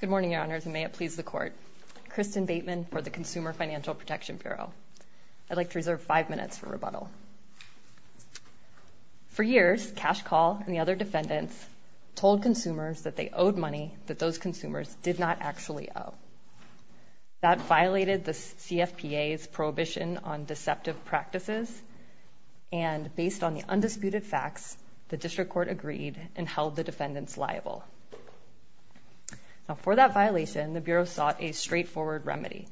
Good morning, Your Honors, and may it please the Court. Kristen Bateman for the Consumer Financial Protection Bureau. I'd like to reserve five minutes for rebuttal. For years, Cashcall and the other defendants told consumers that they owed money that those consumers did not actually owe. That violated the CFPA's prohibition on deceptive practices, and based on the undisputed facts, the District Court agreed and held the defendants liable. For that violation, the Bureau sought a straightforward remedy,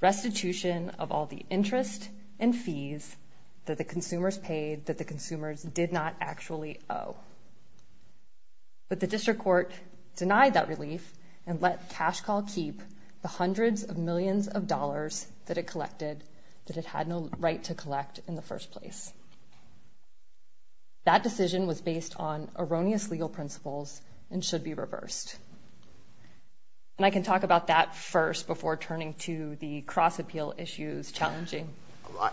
restitution of all the interest and fees that the consumers paid that the consumers did not actually owe. But the District Court denied that relief and let Cashcall keep the hundreds of millions of dollars that it collected that it had no right to collect in the first place. That decision was based on erroneous legal principles and should be reversed. And I can talk about that first before turning to the cross-appeal issues challenging.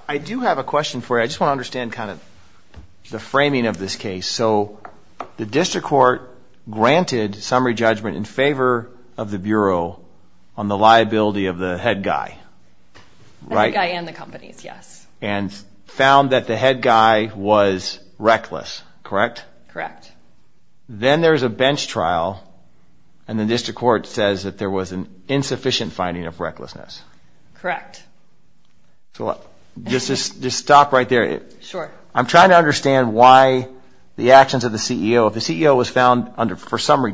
I do have a question for you. I just want to understand kind of the framing of this case. So the District Court granted summary judgment in favor of the Bureau on the liability of the head guy, right? The head guy and the companies, yes. And found that the head guy was reckless, correct? Correct. Then there's a bench trial and the District Court says that there was an insufficient finding of recklessness. Correct. So just stop right there. I'm trying to understand why the actions of the CEO, if the CEO was found for summary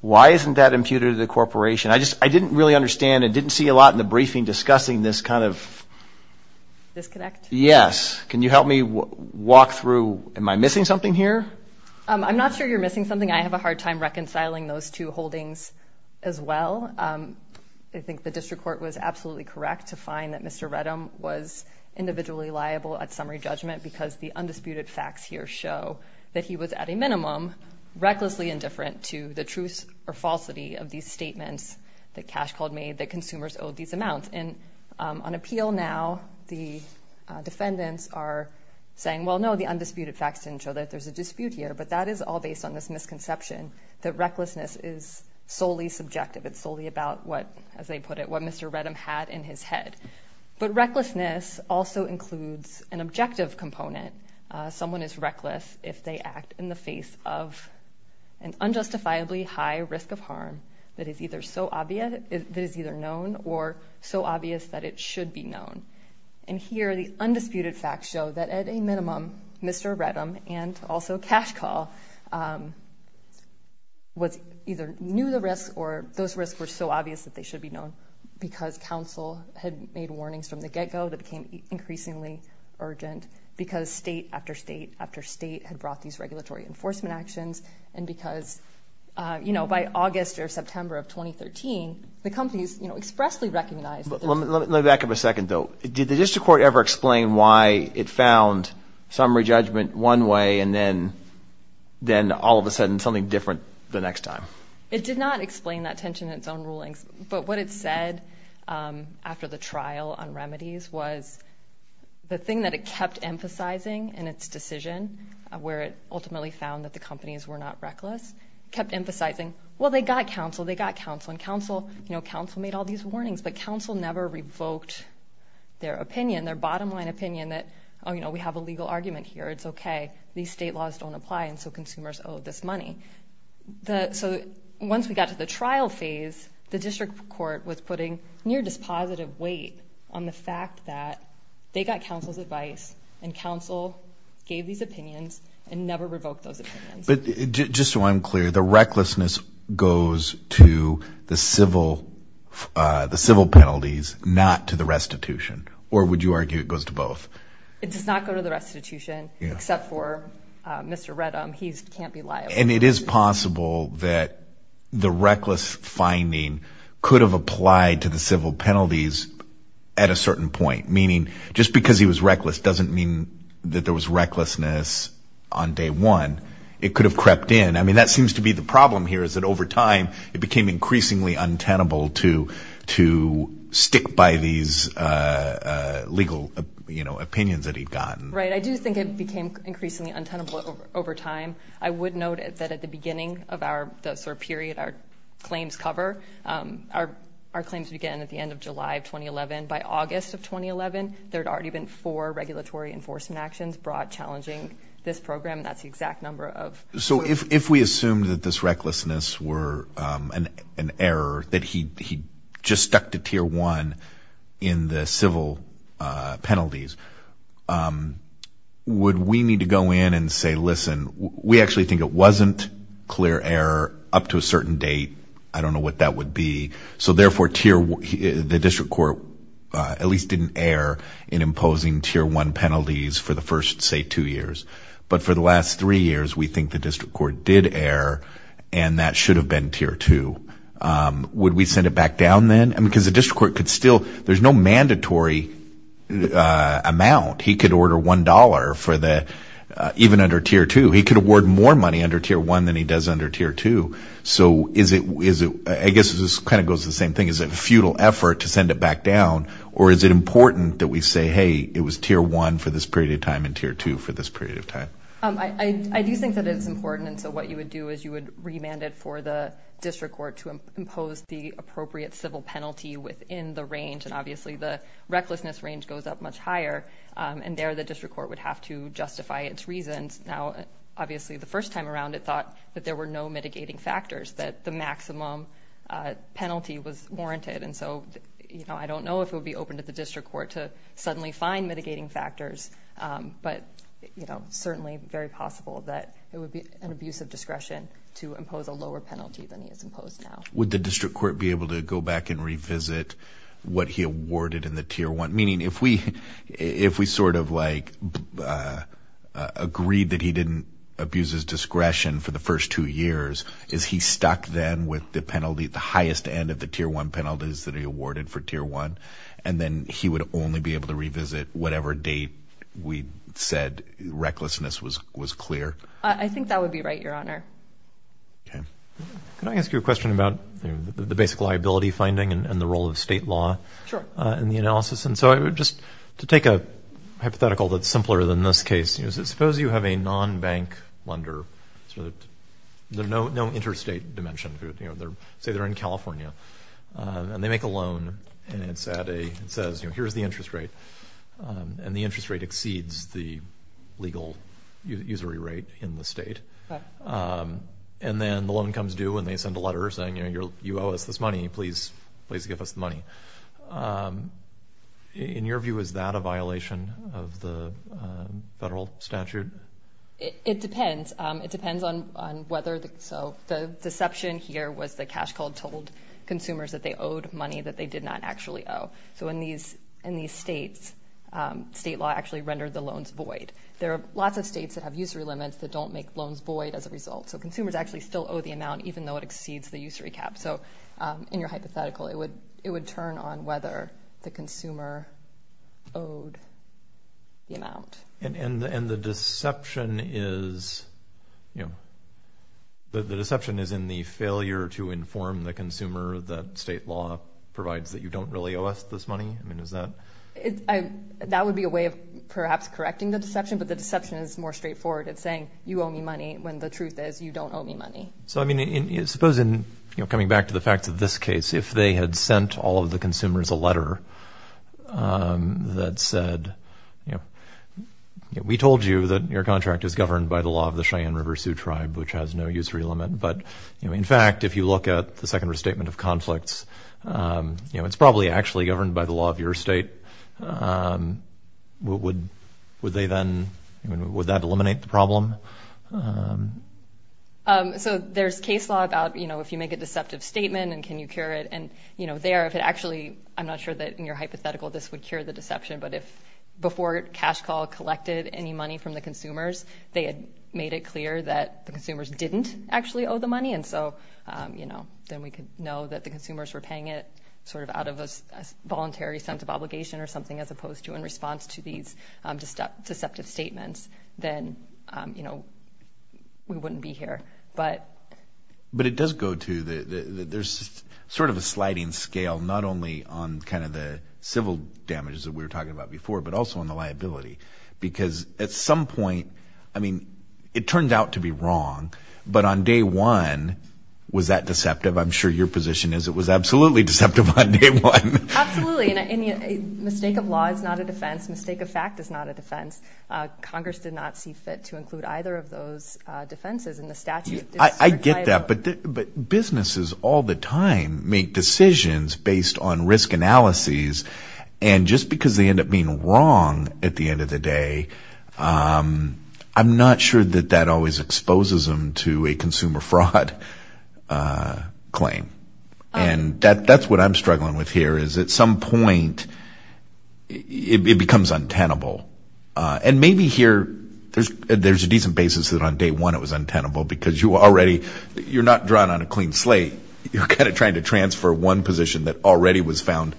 Why was that imputed to the corporation? I just, I didn't really understand. I didn't see a lot in the briefing discussing this kind of... Disconnect? Yes. Can you help me walk through, am I missing something here? I'm not sure you're missing something. I have a hard time reconciling those two holdings as well. I think the District Court was absolutely correct to find that Mr. Redham was individually liable at summary judgment because the undisputed facts here show that he was at a minimum recklessly indifferent to the truth or falsity of these statements that Cash Cold made that consumers owed these amounts. And on appeal now, the defendants are saying, well, no, the undisputed facts didn't show that there's a dispute here. But that is all based on this misconception that recklessness is solely subjective. It's solely about what, as they put it, what Mr. Redham had in his head. But recklessness also includes an objective component. Someone is reckless if they act in the face of an unjustifiably high risk of harm that is either known or so obvious that it should be known. And here, the undisputed facts show that at a minimum, Mr. Redham and also Cash Cold either knew the risks or those risks were so obvious that they should be known because counsel had made warnings from the get-go that became increasingly urgent because state after state after state had brought these regulatory enforcement actions. And because, you know, by August or September of 2013, the companies, you know, expressly recognized. Let me back up a second, though. Did the district court ever explain why it found summary judgment one way and then all of a sudden something different the next time? It did not explain that tension in its own rulings. But what it said after the trial on remedies was the thing that it kept emphasizing in its decision, where it ultimately found that the companies were not reckless, kept emphasizing, well, they got counsel. They got counsel. And counsel, you know, counsel made all these warnings. But counsel never revoked their opinion, their bottom line opinion that, oh, you know, we have a legal argument here. It's okay. These state laws don't apply. And so consumers owe this money. So once we got to the trial phase, the district court was putting near dispositive weight on the fact that they got counsel's advice and counsel gave these opinions and never revoked those opinions. But just so I'm clear, the recklessness goes to the civil penalties, not to the restitution? Or would you argue it goes to both? It does not go to the restitution, except for Mr. Reddam. He can't be liable. And it is possible that the reckless finding could have applied to the civil penalties at a certain point, meaning just because he was reckless doesn't mean that there was recklessness on day one. It could have crept in. I mean, that seems to be the problem here is that over time, it became increasingly untenable to stick by these legal, you know, opinions that he'd gotten. Right. I do think it became increasingly untenable over time. I would note that at the beginning of our period, our claims cover, our claims began at the end of July of 2011. By August of 2011, there'd already been four regulatory enforcement actions brought challenging this program. That's the exact number of. So if we assume that this recklessness were an error, that he just stuck to tier one in the civil penalties, would we need to go in and say, listen, we actually think it wasn't clear error up to a certain date. I don't know what that would be. So therefore, the district court at least didn't err in imposing tier one penalties for the first, say, two years. But for the last three years, we think the district court did err, and that should have been tier two. Would we send it back down then? Because the district court could still, there's no mandatory amount. He could order $1 for the, even under tier two, he could award more money under tier one than he does under tier two. So is it, I guess this kind of goes to the same thing, is it a futile effort to send it back down, or is it important that we say, hey, it was tier one for this period of time and tier two for this period of time? I do think that it's important. And so what you would do is you would remand it for the district court to impose the appropriate civil penalty within the range, and obviously the recklessness range goes up much higher, and there the district court would have to justify its reasons. Now, obviously the first time around, it thought that there were no mitigating factors, that the maximum penalty was warranted. And so I don't know if it would be open to the district court to suddenly find mitigating factors, but certainly very possible that it would be an abuse of discretion to impose a lower penalty than he has imposed now. Would the district court be able to go back and revisit what he awarded in the tier one? Meaning if we sort of like agreed that he didn't abuse his discretion for the first two years, is he stuck then with the penalty at the highest end of the tier one penalties that he awarded for tier one? And then he would only be able to revisit whatever date we said recklessness was clear? I think that would be right, Your Honor. Okay. Can I ask you a question about the basic liability finding and the role of state law in the analysis? And so just to take a hypothetical that's simpler than this case, suppose you have a non-bank lender, no interstate dimension, say they're in California, and they make a loan and it says, here's the interest rate, and the interest rate exceeds the legal usury rate in the state. Okay. And then the loan comes due and they send a letter saying, you owe us this money, please give us the money. In your view, is that a violation of the federal statute? It depends. It depends on whether, so the deception here was the cash cold told consumers that they owed money that they did not actually owe. So in these states, state law actually rendered the loans void. There are lots of states that have usury limits that don't make loans void as a result. So consumers actually still owe the amount even though it exceeds the usury cap. So in your hypothetical, it would turn on whether the consumer owed the amount. And the deception is in the failure to inform the consumer that state law provides that you don't really owe us this money? That would be a way of perhaps correcting the deception, but the deception is more straightforward. It's saying you owe me money when the truth is you don't owe me money. So I mean, suppose in coming back to the facts of this case, if they had sent all of the consumers a letter that said, we told you that your contract is governed by the law of the Cheyenne River Sioux Tribe, which has no usury limit. But in fact, if you look at the second restatement of conflicts, it's probably actually governed by the law of your state. Would that eliminate the problem? So there's case law about if you make a deceptive statement, and can you cure it? And there, if it actually, I'm not sure that in your hypothetical this would cure the deception, but if before cash call collected any money from the consumers, they had made it clear that the consumers didn't actually owe the money. And so, you know, then we could know that the consumers were paying it sort of out of a voluntary sense of obligation or something, as opposed to in response to these deceptive statements, then, you know, we wouldn't be here. But it does go to the, there's sort of a sliding scale, not only on kind of the civil damages that we were talking about before, but also on the liability. Because at some point, I mean, it turns out to be wrong. But on day one, was that deceptive? I'm sure your position is it was absolutely deceptive on day one. Absolutely. And a mistake of law is not a defense. Mistake of fact is not a defense. Congress did not see fit to include either of those defenses in the statute. I get that. But businesses all the time make decisions based on risk analyses. And just because they end up being wrong at the end of the day, I'm not sure that that always exposes them to a consumer fraud claim. And that's what I'm struggling with here is at some point, it becomes untenable. And maybe here, there's a decent basis that on day one, it was untenable because you already, you're not drawn on a clean slate, you're kind of trying to transfer one position that already was found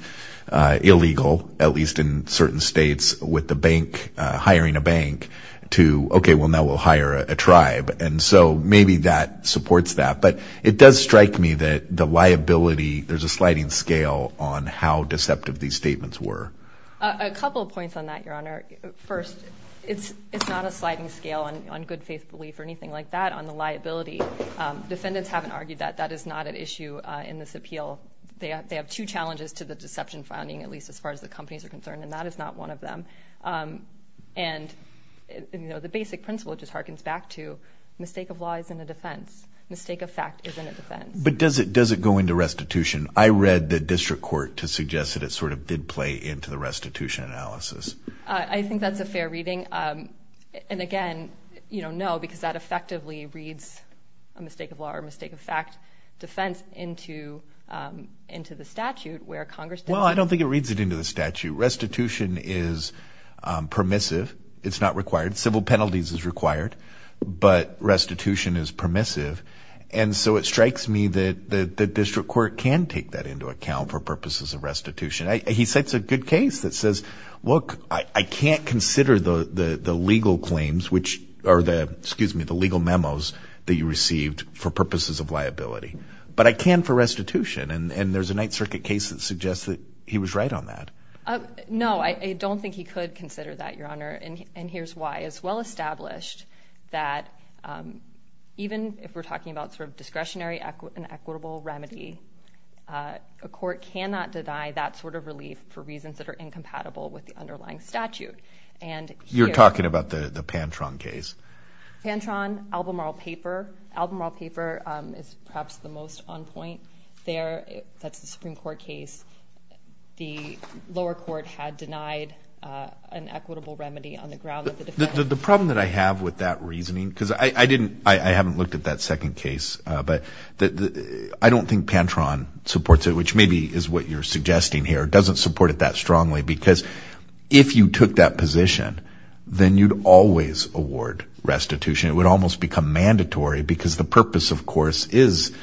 illegal, at least in certain states, with the bank hiring a bank to, okay, well, now we'll hire a tribe. And so maybe that supports that. But it does strike me that the liability, there's a sliding scale on how deceptive these statements were. A couple of points on that, Your Honor. First, it's not a sliding scale on good faith belief or anything like that on the liability. Defendants haven't argued that. That is not an issue in this appeal. They have two challenges to the deception finding, at least as far as the companies are concerned, and that is not one of them. And the basic principle just harkens back to mistake of law isn't a defense. Mistake of fact isn't a defense. But does it go into restitution? I read the district court to suggest that it sort of did play into the restitution analysis. I think that's a fair reading. And again, no, because that effectively reads a mistake of law or a mistake of fact defense into the statute where Congress did. Well, I don't think it reads it into the statute. Restitution is permissive. It's not required. Civil penalties is required. But restitution is permissive. And so it strikes me that the district court can take that into account for purposes of restitution. He sets a good case that says, look, I can't consider the legal claims, which are the excuse me, the legal memos that you received for purposes of liability. But I can for restitution. And there's a Ninth Circuit case that suggests that he was right on that. No, I don't think he could consider that, Your Honor. And here's why. It's well established that even if we're talking about sort of discretionary and equitable remedy, a court cannot deny that sort of relief for reasons that are incompatible with the underlying statute. And you're talking about the Pantron case. Pantron, Albemarle paper. Albemarle paper is perhaps the most on point there. That's the Supreme Court case. The lower court had denied an equitable remedy on the ground that the defendant... The problem that I have with that reasoning, because I haven't looked at that second case, but I don't think Pantron supports it, which maybe is what you're suggesting here. It doesn't support it that strongly because if you took that position, then you'd always award restitution. It would almost become mandatory because the purpose, of course, is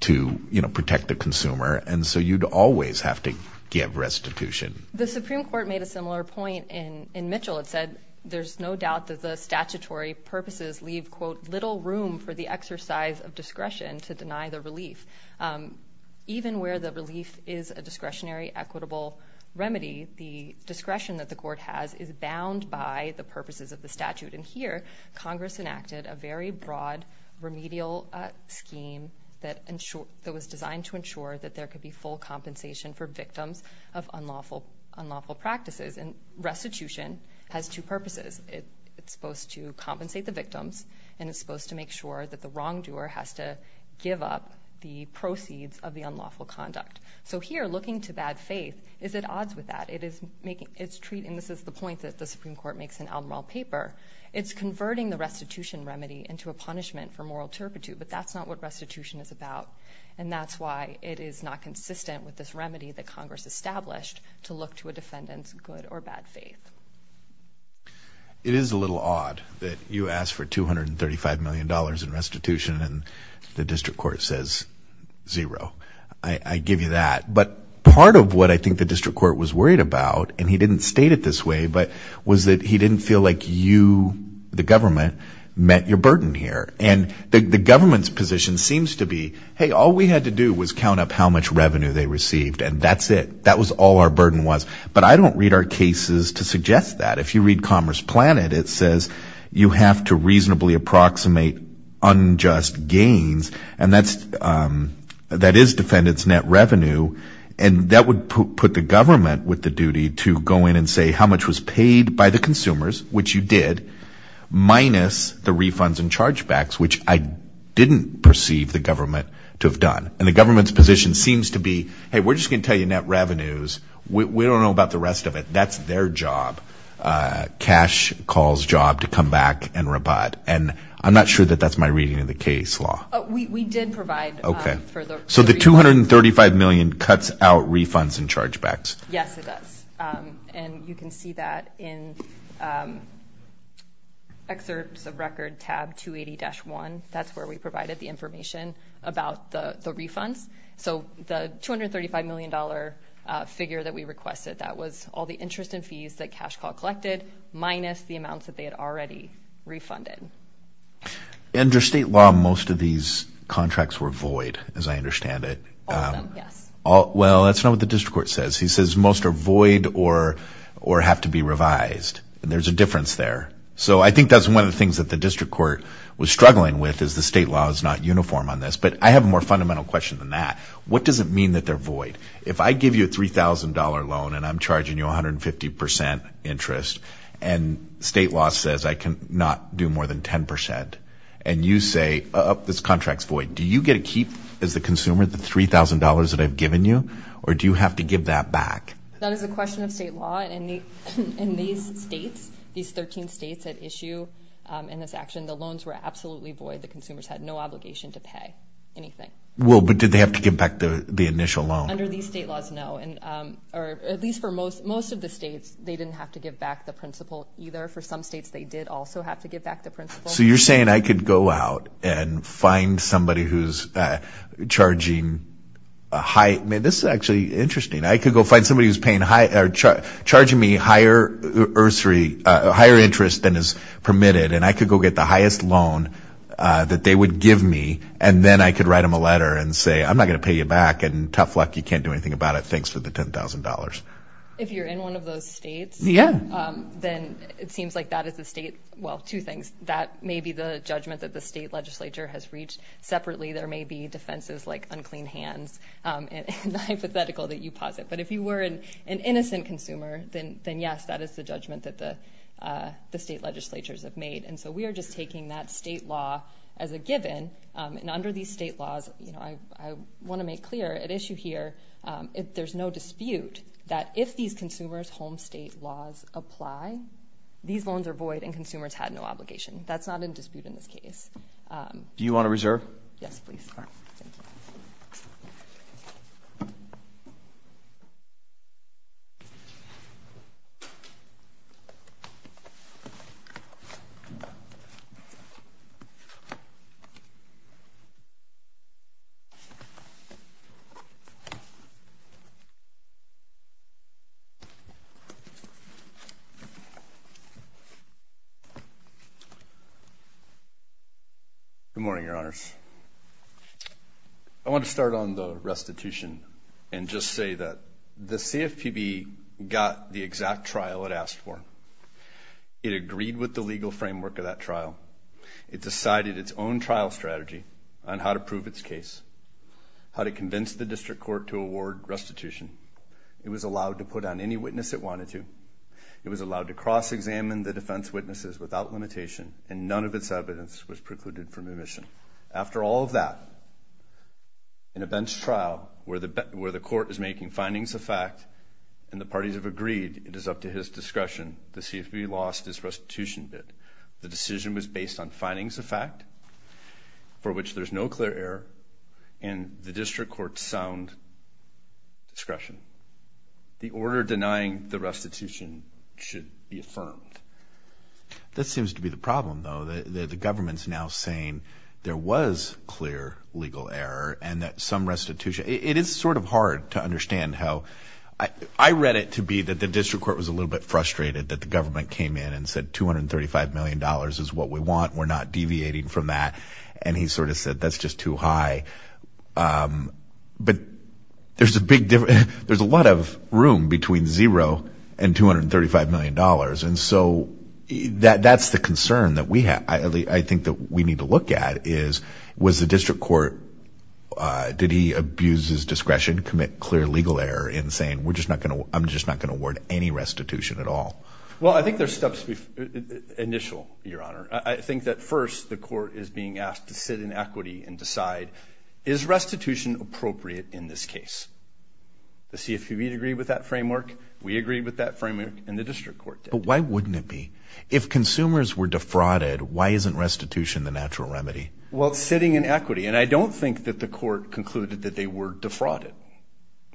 to protect the consumer. And so you'd always have to give restitution. The Supreme Court made a similar point in Mitchell. It said there's no doubt that the statutory purposes leave, quote, little room for the exercise of discretion to deny the relief. Even where the relief is a discretionary equitable remedy, the discretion that the court has is bound by the purposes of the statute. And here, Congress enacted a very broad remedial scheme that was designed to ensure that there could be full compensation for victims of unlawful practices. And restitution has two purposes. It's supposed to compensate the victims, and it's supposed to make sure that the wrongdoer has to give up the proceeds of the unlawful conduct. So here, looking to bad faith, is at odds with that. It is making, it's treating, this is the point that the Supreme Court makes in Admiral Paper, it's converting the restitution remedy into a punishment for moral turpitude, but that's not what restitution is about. And that's why it is not consistent with this remedy that Congress established to look to a defendant's good or bad faith. It is a little odd that you ask for $235 million in restitution and the district court says zero. I give you that. But part of what I think the district court was worried about, and he didn't state it this way, but was that he didn't feel like you, the government, met your burden here. And the government's position seems to be, hey, all we had to do was count up how much revenue they received and that's it. That was all our burden was. But I don't read our cases to suggest that. If you read Commerce Planet, it says you have to reasonably approximate unjust gains. And that is defendant's net revenue. And that would put the government with the duty to go in and say how much was paid by the consumers, which you did, minus the refunds and chargebacks, which I didn't perceive the government to have done. And the government's position seems to be, hey, we're just going to tell you net revenues. We don't know about the rest of it. That's their job. Cash calls job to come back and rebut. And I'm not sure that that's my reading of the case law. We did provide for the refunds. So the $235 million cuts out refunds and chargebacks. Yes, it does. And you can see that in excerpts of record tab 280-1. That's where we provided the information about the refunds. So the $235 million figure that we requested, that was all the interest and fees that Cash Call collected, minus the amounts that they had already refunded. Under state law, most of these contracts were void, as I understand it. All of them, yes. Well, that's not what the district court says. He says most are void or have to be revised. There's a difference there. So I think that's one of the things that the district court was struggling with, is the state law is not uniform on this. But I have a more fundamental question than that. What does it mean that they're void? If I give you a $3,000 loan and I'm charging you 150% interest, and state law says I cannot do more than 10%, and you say, oh, this contract's void, do you get to keep, as the consumer, the $3,000 that I've given you, or do you have to give that back? That is a question of state law. In these states, these 13 states that issue in this action, the loans were absolutely void. The consumers had no obligation to pay anything. Well, but did they have to give back the initial loan? Under these state laws, no. Or at least for most of the states, they didn't have to give back the principal either. For some states, they did also have to give back the principal. So you're saying I could go out and find somebody who's charging a high, I mean, this is actually interesting. I could go find somebody who's charging me higher interest than is permitted, and I could go get the highest loan that they would give me, and then I could write them a letter and say, I'm not going to pay you back, and tough luck, you can't do anything about it. Thanks for the $10,000. If you're in one of those states, then it seems like that is the state, well, two things. That may be the judgment that the state legislature has reached separately. There may be defenses like unclean hands, and the hypothetical that you posit. But if you were an innocent consumer, then yes, that is the judgment that the state legislatures have made. And so we are just taking that state law as a given, and under these state laws, I want to make clear an issue here, if there's no dispute, that if these consumers' home state laws apply, these loans are void and consumers have no obligation. That's not in dispute in this case. Do you want to reserve? Yes, please. All right. Thank you. Good morning, your honors. I want to start on the restitution and just say that the CFPB got the exact trial it asked for. It agreed with the legal framework of that trial. It decided its own trial strategy on how to prove its case, how to convince the district court to award restitution. It was allowed to put on any witness it wanted to. It was allowed to cross-examine the defense witnesses without limitation and none of its evidence was precluded from omission. After all of that, in a bench trial where the court is making findings of fact and the parties have agreed it is up to his discretion, the CFPB lost its restitution bid. The decision was based on findings of fact for which there's no clear error and the district court's sound discretion. The order denying the restitution should be the government's now saying there was clear legal error and that some restitution, it is sort of hard to understand how, I read it to be that the district court was a little bit frustrated that the government came in and said $235 million is what we want, we're not deviating from that and he sort of said that's just too high. But there's a big difference, there's a lot of room between zero and $235 million and so that's the concern that we I think that we need to look at is was the district court, did he abuse his discretion, commit clear legal error in saying we're just not gonna, I'm just not gonna award any restitution at all? Well I think there's steps to be initial, your honor. I think that first the court is being asked to sit in equity and decide is restitution appropriate in this case? The CFPB agreed with that framework, we agreed with that framework and the district court did. But why wouldn't it be? If consumers were defrauded, why isn't restitution the natural remedy? Well sitting in equity and I don't think that the court concluded that they were defrauded.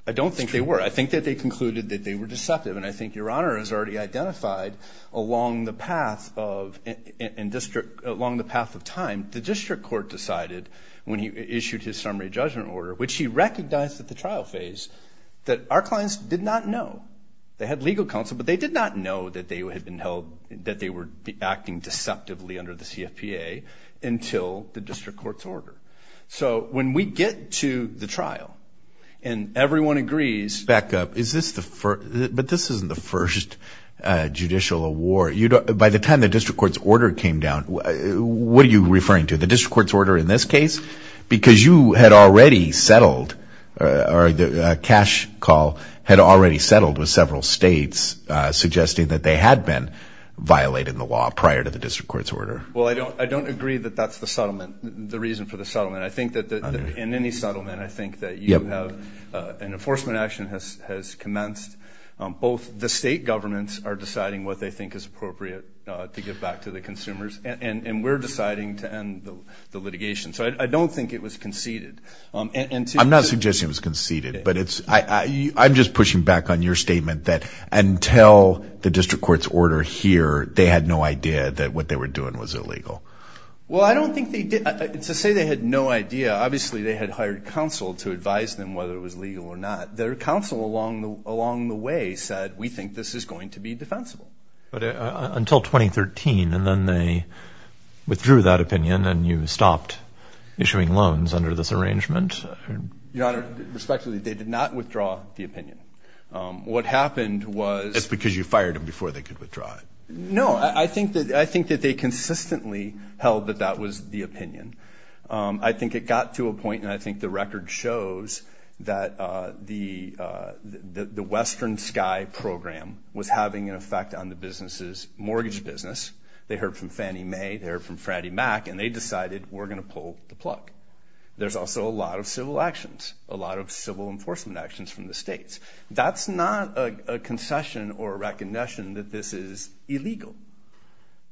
I don't think they were. I think that they concluded that they were deceptive and I think your honor has already identified along the path of and district, along the path of time, the district court decided when he issued his summary judgment order, which he recognized at the trial phase, that our clients did not know. They had legal counsel but they did not know that they were acting deceptively under the CFPA until the district court's order. So when we get to the trial and everyone agrees. Back up, is this the first, but this isn't the first judicial award. You don't, by the time the district court's order came down, what are you referring to? The district court's order in this case? Because you had already settled or the cash call had already settled with several states suggesting that they had been violating the law prior to the district court's order. Well I don't, I don't agree that that's the settlement, the reason for the settlement. I think that in any settlement, I think that you have an enforcement action has commenced. Both the state governments are deciding what they think is appropriate to give back to the consumers and we're deciding to end the litigation. So I don't think it was conceded. I'm not pushing back on your statement that until the district court's order here, they had no idea that what they were doing was illegal. Well I don't think they did. To say they had no idea, obviously they had hired counsel to advise them whether it was legal or not. Their counsel along the way said we think this is going to be defensible. But until 2013 and then they withdrew that opinion and you stopped issuing loans under this arrangement? Your what happened was... That's because you fired him before they could withdraw it. No, I think that I think that they consistently held that that was the opinion. I think it got to a point and I think the record shows that the Western Sky program was having an effect on the business's mortgage business. They heard from Fannie Mae, they heard from Franny Mac and they decided we're gonna pull the plug. There's also a lot of civil actions, a lot of civil enforcement actions from the states. That's not a concession or a recognition that this is illegal.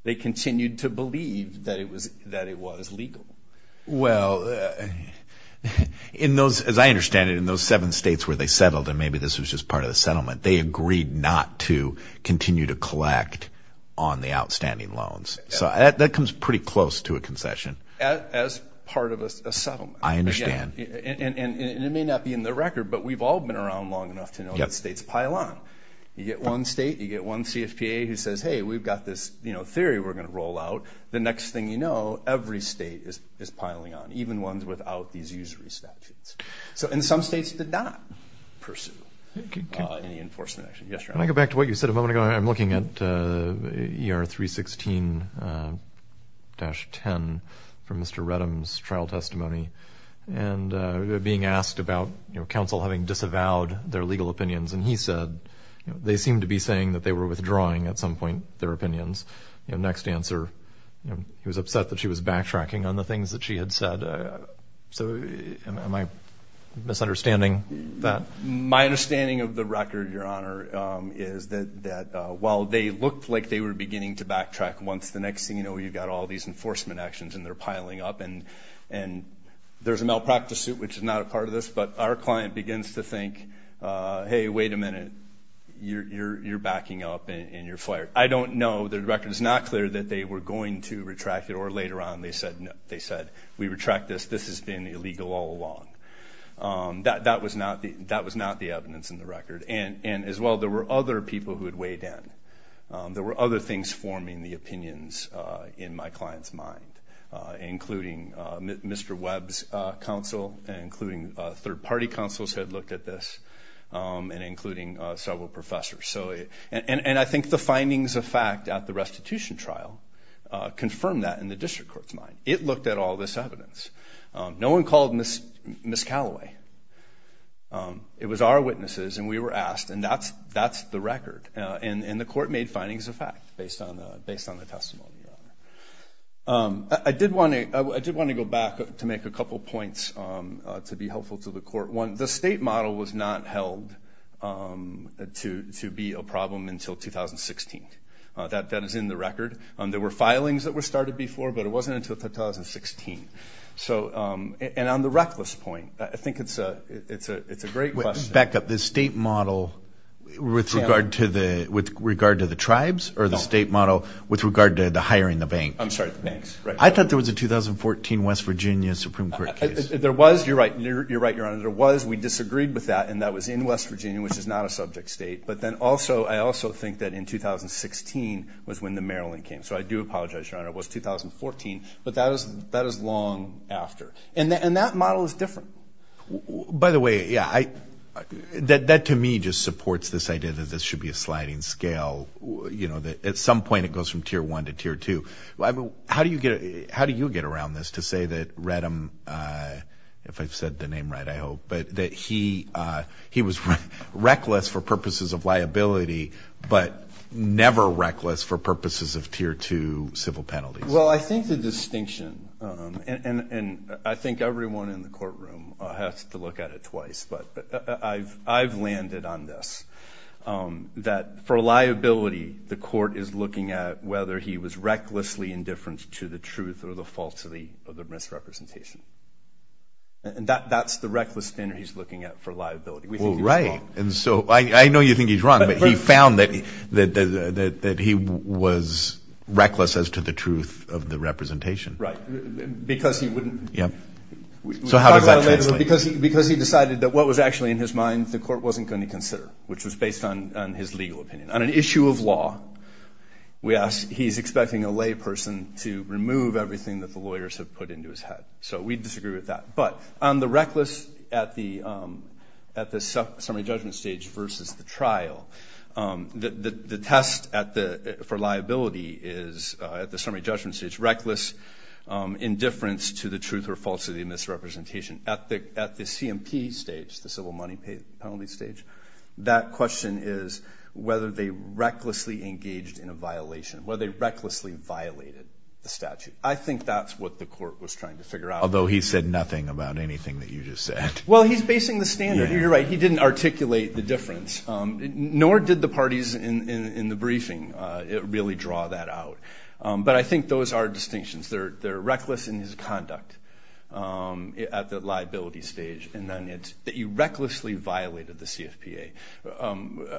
They continued to believe that it was that it was legal. Well in those, as I understand it, in those seven states where they settled and maybe this was just part of the settlement, they agreed not to continue to collect on the outstanding loans. So that comes pretty close to a concession. As part of a settlement. I understand. And it may not be in the record but we've all been around long enough to know that states pile on. You get one state, you get one CFPA who says, hey we've got this, you know, theory we're gonna roll out. The next thing you know, every state is piling on. Even ones without these usury statutes. So in some states did not pursue any enforcement action. Can I go back to what you said a moment ago? I'm looking at ER 316-10 from Mr. Reddam's trial and he said they seemed to be saying that they were withdrawing at some point their opinions. Next answer, he was upset that she was backtracking on the things that she had said. So am I misunderstanding that? My understanding of the record, your honor, is that while they looked like they were beginning to backtrack, once the next thing you know you've got all these enforcement actions and they're piling up and and there's a malpractice suit which is not a part of this, but our client begins to think, hey wait a minute, you're backing up and you're fired. I don't know, the record is not clear that they were going to retract it or later on they said no, they said we retract this, this has been illegal all along. That was not the evidence in the record. And as well, there were other people who had weighed in. There were other things forming the third-party counsels had looked at this and including several professors. And I think the findings of fact at the restitution trial confirmed that in the district court's mind. It looked at all this evidence. No one called Miss Callaway. It was our witnesses and we were asked and that's that's the record and the court made findings of fact based on the testimony. I did want to go back to make a couple points to be helpful to the court. One, the state model was not held to to be a problem until 2016. That that is in the record and there were filings that were started before but it wasn't until 2016. So and on the reckless point, I think it's a it's a it's a great question. Back up, the state model with regard to the with regard to the tribes or the state model with regard to the hiring the bank? I'm sorry, the banks. I thought there was a 2014 West Virginia Supreme Court case. There was, you're right, you're right, your honor. There was. We disagreed with that and that was in West Virginia which is not a subject state. But then also I also think that in 2016 was when the Maryland came. So I do apologize, your honor. It was 2014 but that is that is long after. And that model is different. By the way, yeah, I that that to me just supports this idea that this should be a sliding scale. You know that at some point it goes from tier one to tier two. I mean how do you get how do you get around this to say that Redham, if I've said the name right I hope, but that he he was reckless for purposes of liability but never reckless for purposes of tier two civil penalties? Well I think the distinction and and I think everyone in the courtroom has to look at it twice but I've I've landed on this that for liability the court is looking at whether he was recklessly indifferent to the truth or the falsity of the misrepresentation. And that that's the reckless standard he's looking at for liability. Right and so I know you think he's wrong but he found that that he was reckless as to the truth of the representation. Right. Because he wouldn't. Yeah. So how does that translate? Because because he decided that what was actually in his mind the court wasn't going to consider which was based on his legal opinion. On an issue of law we ask he's expecting a person to remove everything that the lawyers have put into his head. So we disagree with that. But on the reckless at the at the summary judgment stage versus the trial that the test at the for liability is at the summary judgment stage reckless indifference to the truth or falsity of misrepresentation. At the at the CMP stage the civil money penalty stage that question is whether they recklessly violated the statute. I think that's what the court was trying to figure out. Although he said nothing about anything that you just said. Well he's basing the standard. You're right he didn't articulate the difference. Nor did the parties in in the briefing it really draw that out. But I think those are distinctions. They're they're reckless in his conduct at the liability stage and then it's that you recklessly violated the CFPA.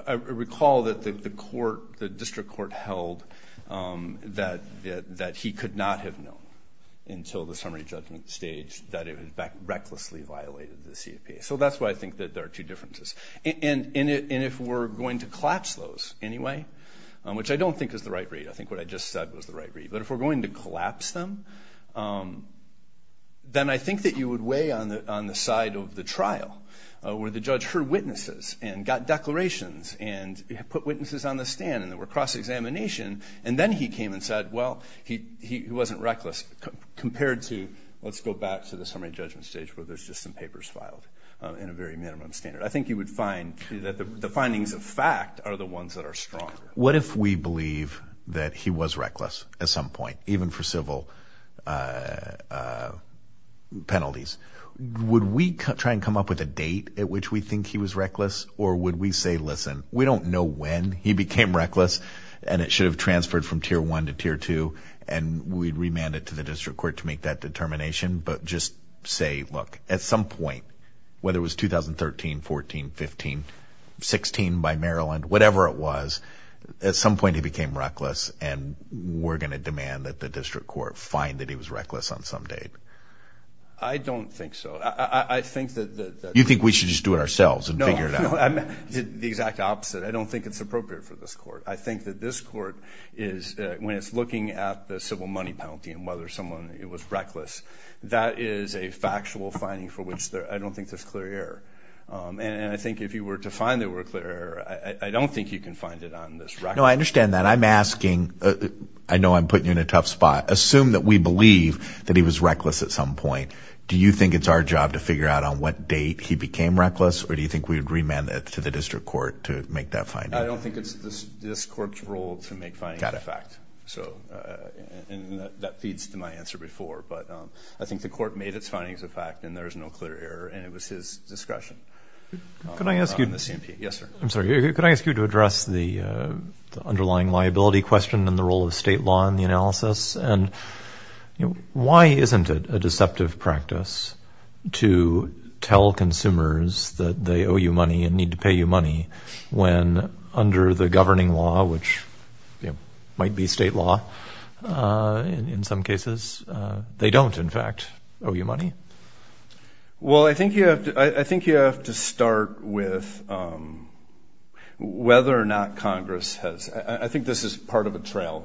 I recall that the court the that that he could not have known until the summary judgment stage that it was back recklessly violated the CFPA. So that's why I think that there are two differences. And in it and if we're going to collapse those anyway which I don't think is the right read. I think what I just said was the right read. But if we're going to collapse them then I think that you would weigh on the on the side of the trial where the judge heard witnesses and got declarations and put witnesses on the stand and there were cross-examination and then he came and said well he he wasn't reckless compared to let's go back to the summary judgment stage where there's just some papers filed in a very minimum standard. I think you would find that the findings of fact are the ones that are strong. What if we believe that he was reckless at some point even for civil penalties? Would we try and come up with a date at which we think he was reckless or would we say listen we don't know when he became reckless and it should have transferred from tier 1 to tier 2 and we'd remand it to the district court to make that determination but just say look at some point whether it was 2013, 14, 15, 16 by Maryland whatever it was at some point he became reckless and we're going to demand that the district court find that he was reckless on some date. I don't think so. I think that. You think we should just do it ourselves and figure that out. The exact opposite. I don't think it's appropriate for this court. I think that this court is when it's looking at the civil money penalty and whether someone it was reckless that is a factual finding for which there I don't think there's clear error and I think if you were to find there were a clear error I don't think you can find it on this record. No I understand that I'm asking I know I'm putting you in a tough spot assume that we believe that he was reckless at some point do you think it's our job to figure out on what date he demanded to the district court to make that find? I don't think it's this court's role to make findings of fact so that feeds to my answer before but I think the court made its findings of fact and there is no clear error and it was his discretion. Can I ask you to address the underlying liability question and the role of state law in the analysis and why isn't it a need to pay you money when under the governing law which might be state law in some cases they don't in fact owe you money? Well I think you have to I think you have to start with whether or not Congress has I think this is part of a trail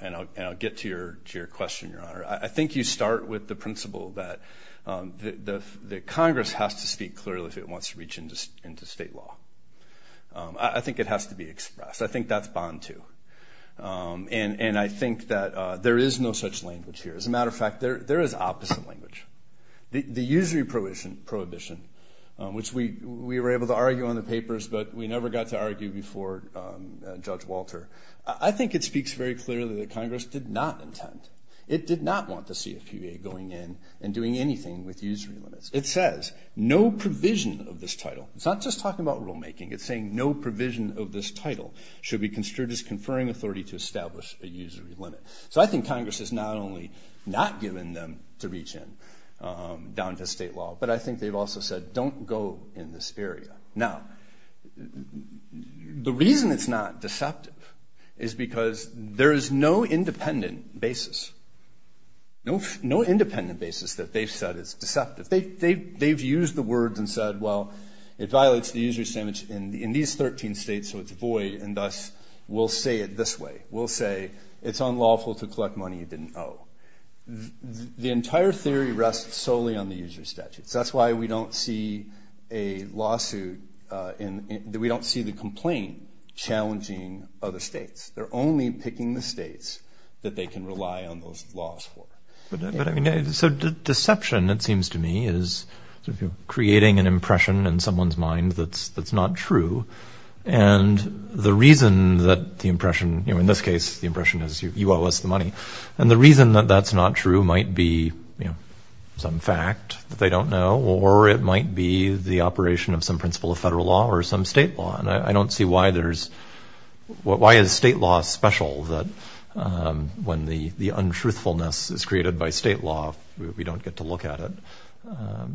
and I'll get to your question your honor I think you start with the principle that the Congress has to speak clearly if it wants to reach into state law. I think it has to be expressed I think that's bond too and and I think that there is no such language here as a matter of fact there there is opposite language. The usury prohibition prohibition which we we were able to argue on the papers but we never got to argue before Judge Walter I think it speaks very clearly that Congress did not intend it did not want the CFPB going in and doing anything with usury limits. It says no provision of this title it's not just talking about rulemaking it's saying no provision of this title should be construed as conferring authority to establish a usury limit. So I think Congress has not only not given them to reach in down to state law but I think they've also said don't go in this area. Now the reason it's not deceptive is because there is no independent basis no no independent basis that they've said is deceptive. They've used the words and said well it violates the usury standards in these 13 states so it's void and thus we'll say it this way we'll say it's unlawful to collect money you didn't owe. The entire theory rests solely on the usury statutes that's why we don't see a lawsuit and we don't see the complaint challenging other states. They're only picking the states that they can rely on those laws for. So deception it seems to me is creating an impression in someone's mind that's that's not true and the reason that the impression you know in this case the impression is you owe us the money and the reason that that's not true might be you know some fact that they don't know or it might be the operation of some principle of federal law or some state law and I don't see why there's what why is state law special that when the the untruthfulness is created by state law we don't get to look at it. I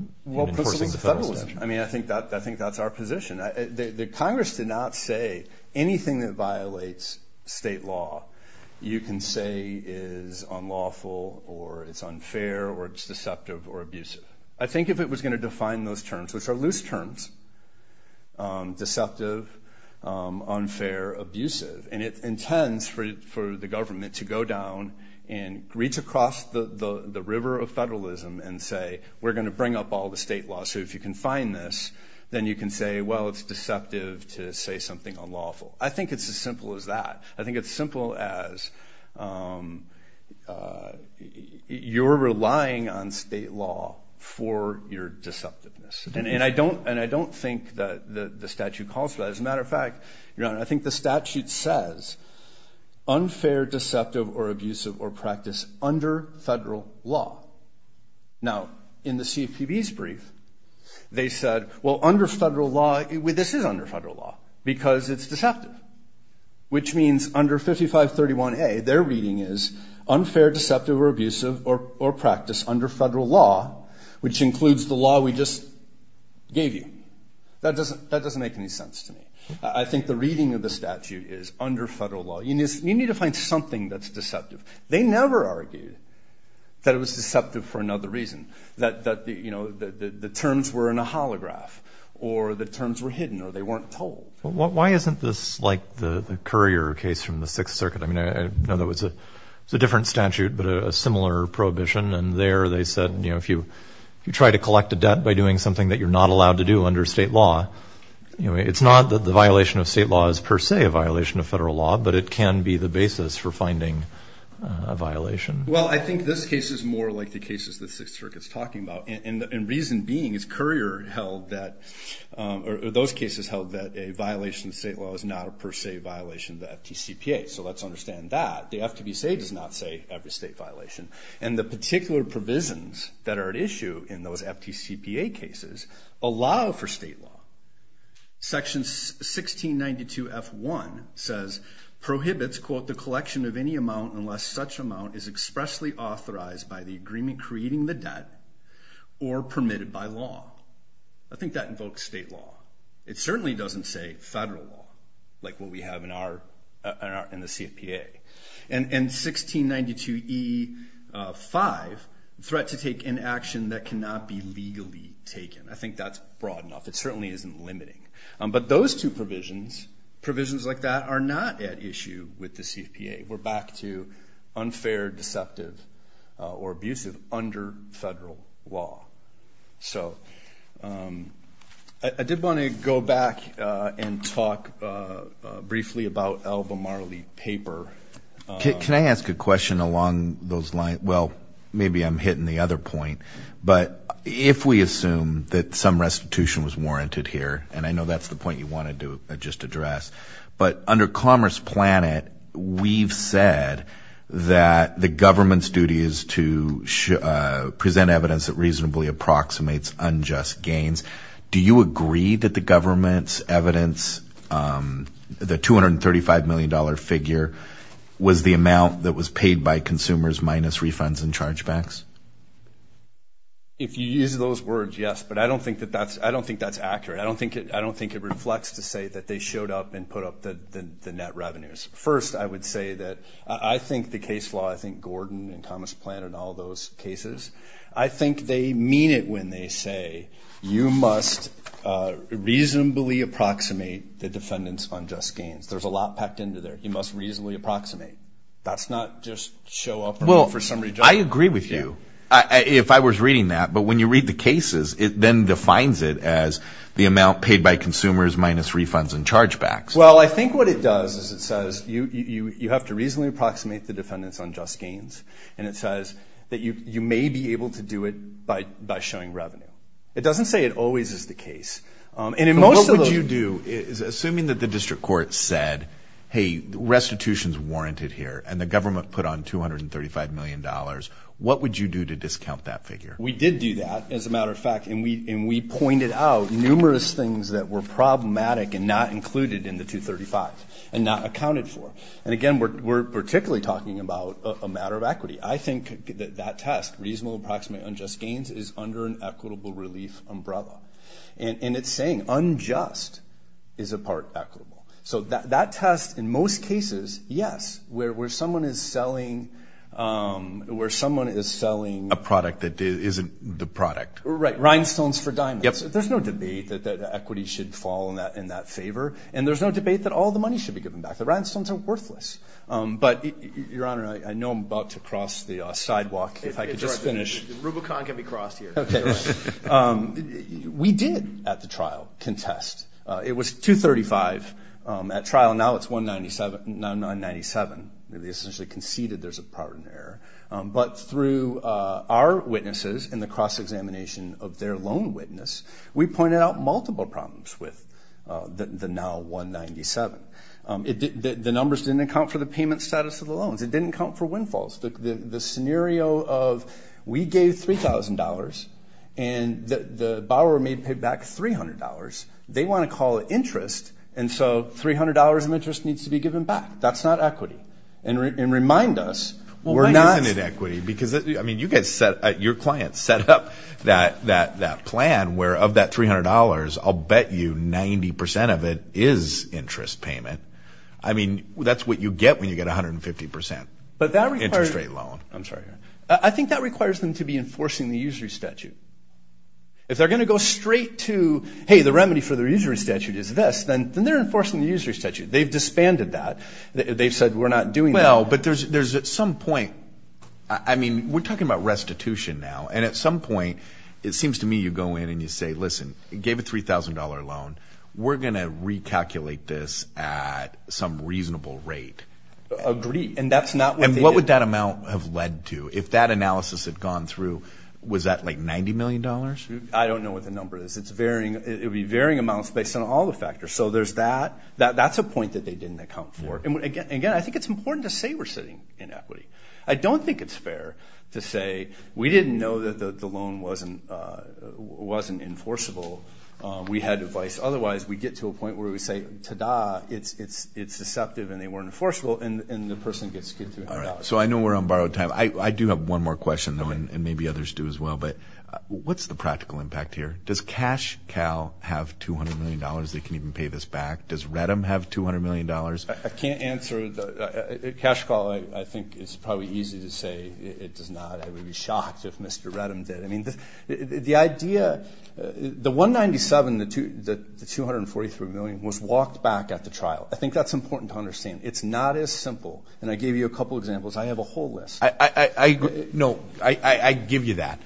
mean I think that I think that's our position. The Congress did not say anything that violates state law you can say is unlawful or it's unfair or it's deceptive or abusive. I think if it was going to define those terms which are deceptive, unfair, abusive and it intends for the government to go down and reach across the the river of federalism and say we're going to bring up all the state law so if you can find this then you can say well it's deceptive to say something unlawful. I think it's as simple as that. I think it's simple as you're relying on state law for your deceptiveness and I don't and I don't think that the statute calls for that. As a matter of fact I think the statute says unfair, deceptive or abusive or practice under federal law. Now in the CFPB's brief they said well under federal law, this is under federal law because it's deceptive which means under 5531A their reading is unfair, deceptive or abusive or practice under federal law which includes the law we just gave you. That doesn't make any sense to me. I think the reading of the statute is under federal law. You need to find something that's deceptive. They never argued that it was deceptive for another reason. That the terms were in a holograph or the terms were hidden or they weren't told. Why isn't this like the Currier case from the Sixth Circuit? I know that was a different statute but a similar prohibition and there they said if you try to collect a debt by doing something that you're not allowed to do under state law, it's not that the violation of state law is per se a violation of federal law but it can be the basis for finding a violation. Well I think this case is more like the cases the Sixth Circuit's talking about and reason being is Currier held that or those cases held that a violation of state law is not a per se violation that the FTCPA. So let's understand that. The FTCPA does not say every state violation and the particular provisions that are at issue in those FTCPA cases allow for state law. Section 1692 F1 says prohibits quote the collection of any amount unless such amount is expressly authorized by the agreement creating the debt or permitted by law. I think that invokes state law. It certainly doesn't say federal law like what we have in the CFPA. And 1692 E5, threat to take an action that cannot be legally taken. I think that's broad enough. It certainly isn't limiting. But those two provisions, provisions like that are not at issue with the CFPA. We're back to unfair, deceptive, or abusive under federal law. So I did want to go back and talk briefly about Alva Marley paper. Can I ask a question along those lines? Well maybe I'm hitting the other point, but if we assume that some restitution was warranted here, and I know that's the point you wanted to just address, but under Commerce Planet we've said that the government's duty is to present evidence that reasonably approximates unjust gains. Do you agree that the government's evidence, the 235 million dollar figure, was the amount that was paid by consumers minus refunds and chargebacks? If you use those words, yes. But I don't think that that's, I don't think that's accurate. I don't think it, I don't think it reflects to say that they showed up and put up the net revenues. First I would say that I think the case law, I think Gordon and Commerce Planet and all those cases, I think they mean it when they say you must reasonably approximate the defendant's unjust gains. There's a lot packed into there. You must reasonably approximate. That's not just show up for some reason. I agree with you if I was reading that, but when you read the cases it then defines it as the amount paid by consumers minus refunds and chargebacks. Well I think what it does is it says you have to reasonably approximate the defendant's unjust gains and it says that you may be able to do it by by showing revenue. It doesn't say it always is the case. What would you do, assuming that the district court said, hey restitution's warranted here and the government put on 235 million dollars, what would you do to discount that figure? We did do that, as a matter of fact, and we and we pointed out numerous things that were problematic and not we're particularly talking about a matter of equity. I think that that test, reasonable approximate unjust gains, is under an equitable relief umbrella and it's saying unjust is a part equitable. So that test in most cases, yes, where someone is selling a product that isn't the product. Right, rhinestones for diamonds. There's no debate that equity should fall in that favor and there's no debate that all the money should be given back. The rhinestones are worthless. But your honor, I know I'm about to cross the sidewalk if I could just finish. Rubicon can be crossed here. Okay, we did at the trial contest. It was 235 at trial, now it's 197. We essentially conceded there's a pardon error, but through our witnesses in the cross-examination of their loan witness, we pointed out multiple problems with the now 197. The numbers didn't account for the payment status of the loans. It didn't count for windfalls. The scenario of we gave $3,000 and the borrower may pay back $300. They want to call it interest and so $300 in interest needs to be given back. That's not equity. And remind us, we're not... Why isn't it equity? Because, I mean, you guys set, your clients set up that plan where of that $300, I'll bet you 90% of it is interest payment. I mean, that's what you get when you get 150% interest rate loan. I'm sorry, your honor. I think that requires them to be enforcing the usury statute. If they're going to go straight to, hey, the remedy for the usury statute is this, then they're enforcing the usury statute. They've disbanded that. They've said, we're not doing that. Well, but there's at some point, I mean, we're talking about restitution now and at some point, it seems to me you go in and you say, listen, gave a $3,000 loan. We're going to recalculate this at some reasonable rate. Agreed. And that's not what they did. And what would that amount have led to? If that analysis had gone through, was that like $90 million? I don't know what the number is. It would be varying amounts based on all the factors. So there's that. That's a point that they didn't account for. And again, I think it's important to say we're sitting in equity. I don't think it's fair to say we didn't know that the loan wasn't enforceable. We had advice. Otherwise, we get to a point where we say, ta-da, it's deceptive, and they weren't enforceable, and the person gets $200. So I know we're on borrowed time. I do have one more question, though, and maybe others do as well. But what's the practical impact here? Does CashCal have $200 million? They can even pay this back. Does REDM have $200 million? I can't answer. CashCal, I think it's probably easy to say it does not. I would be shocked if Mr. REDM did. I mean, the idea... The $197 million, the $243 million, was walked back at the trial. I think that's important to understand. It's not as simple. And I gave you a couple examples. I have a whole list. I agree. No, I give you that.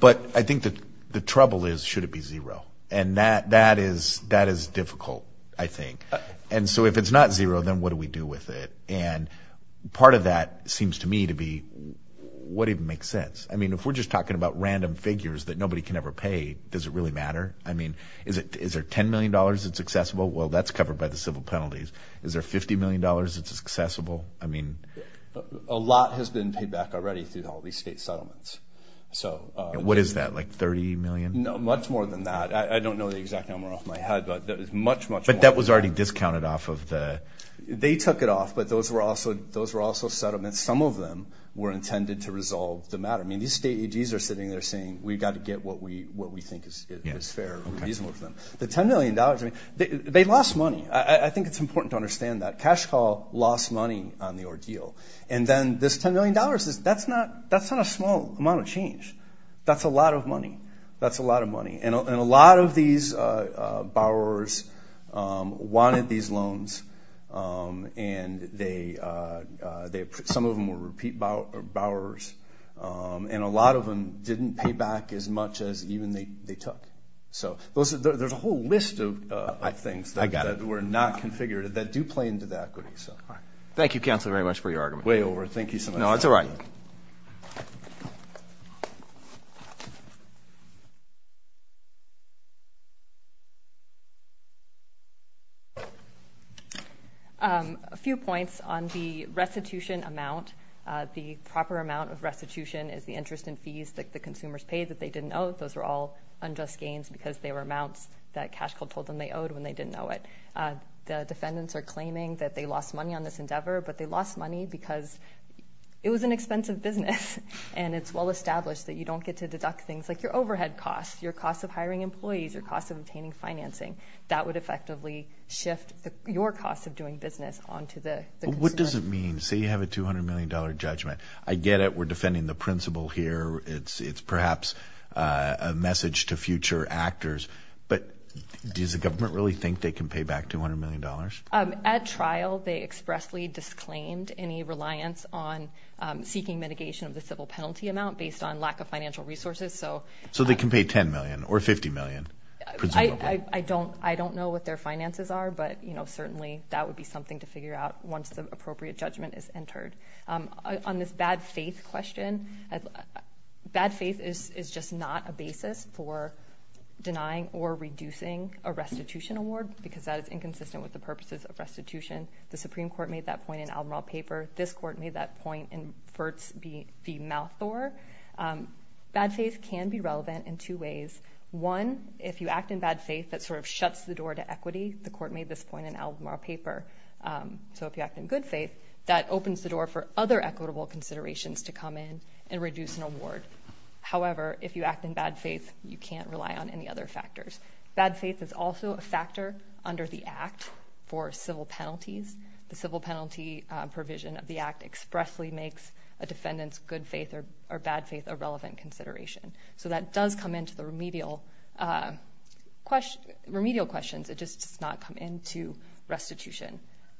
But I think the trouble is, should it be zero? And that is difficult, I think. And so if it's not zero, then what do we do with it? And part of that seems to me to be, what even makes sense? I mean, if we're just talking about random figures that nobody can ever pay, does it really matter? I mean, is there $10 million that's accessible? Well, that's covered by the civil penalties. Is there $50 million that's accessible? I mean... A lot has been paid back already through all these state settlements. So... What is that, like $30 million? No, much more than that. I don't know the exact number off my head, but it's much, much more. But that was already discounted off of the... They took it off, but those were also settlements. Some of them were intended to resolve the matter. I mean, these state AGs are sitting there saying, we've got to get what we think is fair and reasonable for them. The $10 million, I mean, they lost money. I think it's important to understand that. Cash Call lost money on the ordeal. And then this $10 million, that's not a small amount of change. That's a lot of money. That's a lot of money. And a lot of these borrowers wanted these loans. And some of them were repeat borrowers. And a lot of them didn't pay back as much as even they took. So there's a whole list of things that were not configured that do play into the equity. Thank you, Counselor, very much for your argument. Way over. Thank you so much. No, it's all right. Thank you. A few points on the restitution amount. The proper amount of restitution is the interest in fees that the consumers paid that they didn't owe. Those are all unjust gains because they were amounts that Cash Call told them they owed when they didn't know it. The defendants are claiming that they lost money on this endeavor, but they lost money because it was an expensive business. And it's well established that you don't get to deduct things like your overhead costs, your cost of hiring employees, your cost of obtaining financing. That would effectively shift your cost of doing business onto the consumer. What does it mean? Say you have a $200 million judgment. I get it. We're defending the principal here. It's perhaps a message to future actors. But does the government really think they can pay back $200 million? At trial, they expressly disclaimed any reliance on seeking mitigation of the civil penalty amount based on lack of financial resources. So they can pay $10 million or $50 million? I don't know what their finances are, but certainly that would be something to figure out once the appropriate judgment is entered. On this bad faith question, bad faith is just not a basis for denying or reducing a restitution award because that is inconsistent with the purposes of restitution. The Supreme Court made that point in Albemarle paper. This court made that point in Fertz v. Malthor. Bad faith can be relevant in two ways. One, if you act in bad faith, that sort of shuts the door to equity. The court made this point in Albemarle paper. So if you act in good faith, that opens the door for other equitable considerations to come in and reduce an award. However, if you act in bad faith, you can't rely on any other factors. Bad faith is also a factor under the Act for civil penalties. The civil penalty provision of the Act expressly makes a defendant's good faith or bad faith a relevant consideration. So that does come into the remedial questions. It just does not come into restitution.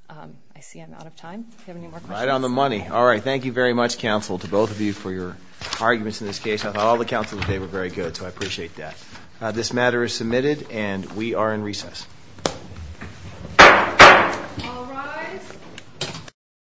I see I'm out of time. Do you have any more questions? Right on the money. All right, thank you very much, counsel, to both of you for your arguments in this case. I thought all the counsels today were very good, so I appreciate that. This matter is submitted, and we are in recess.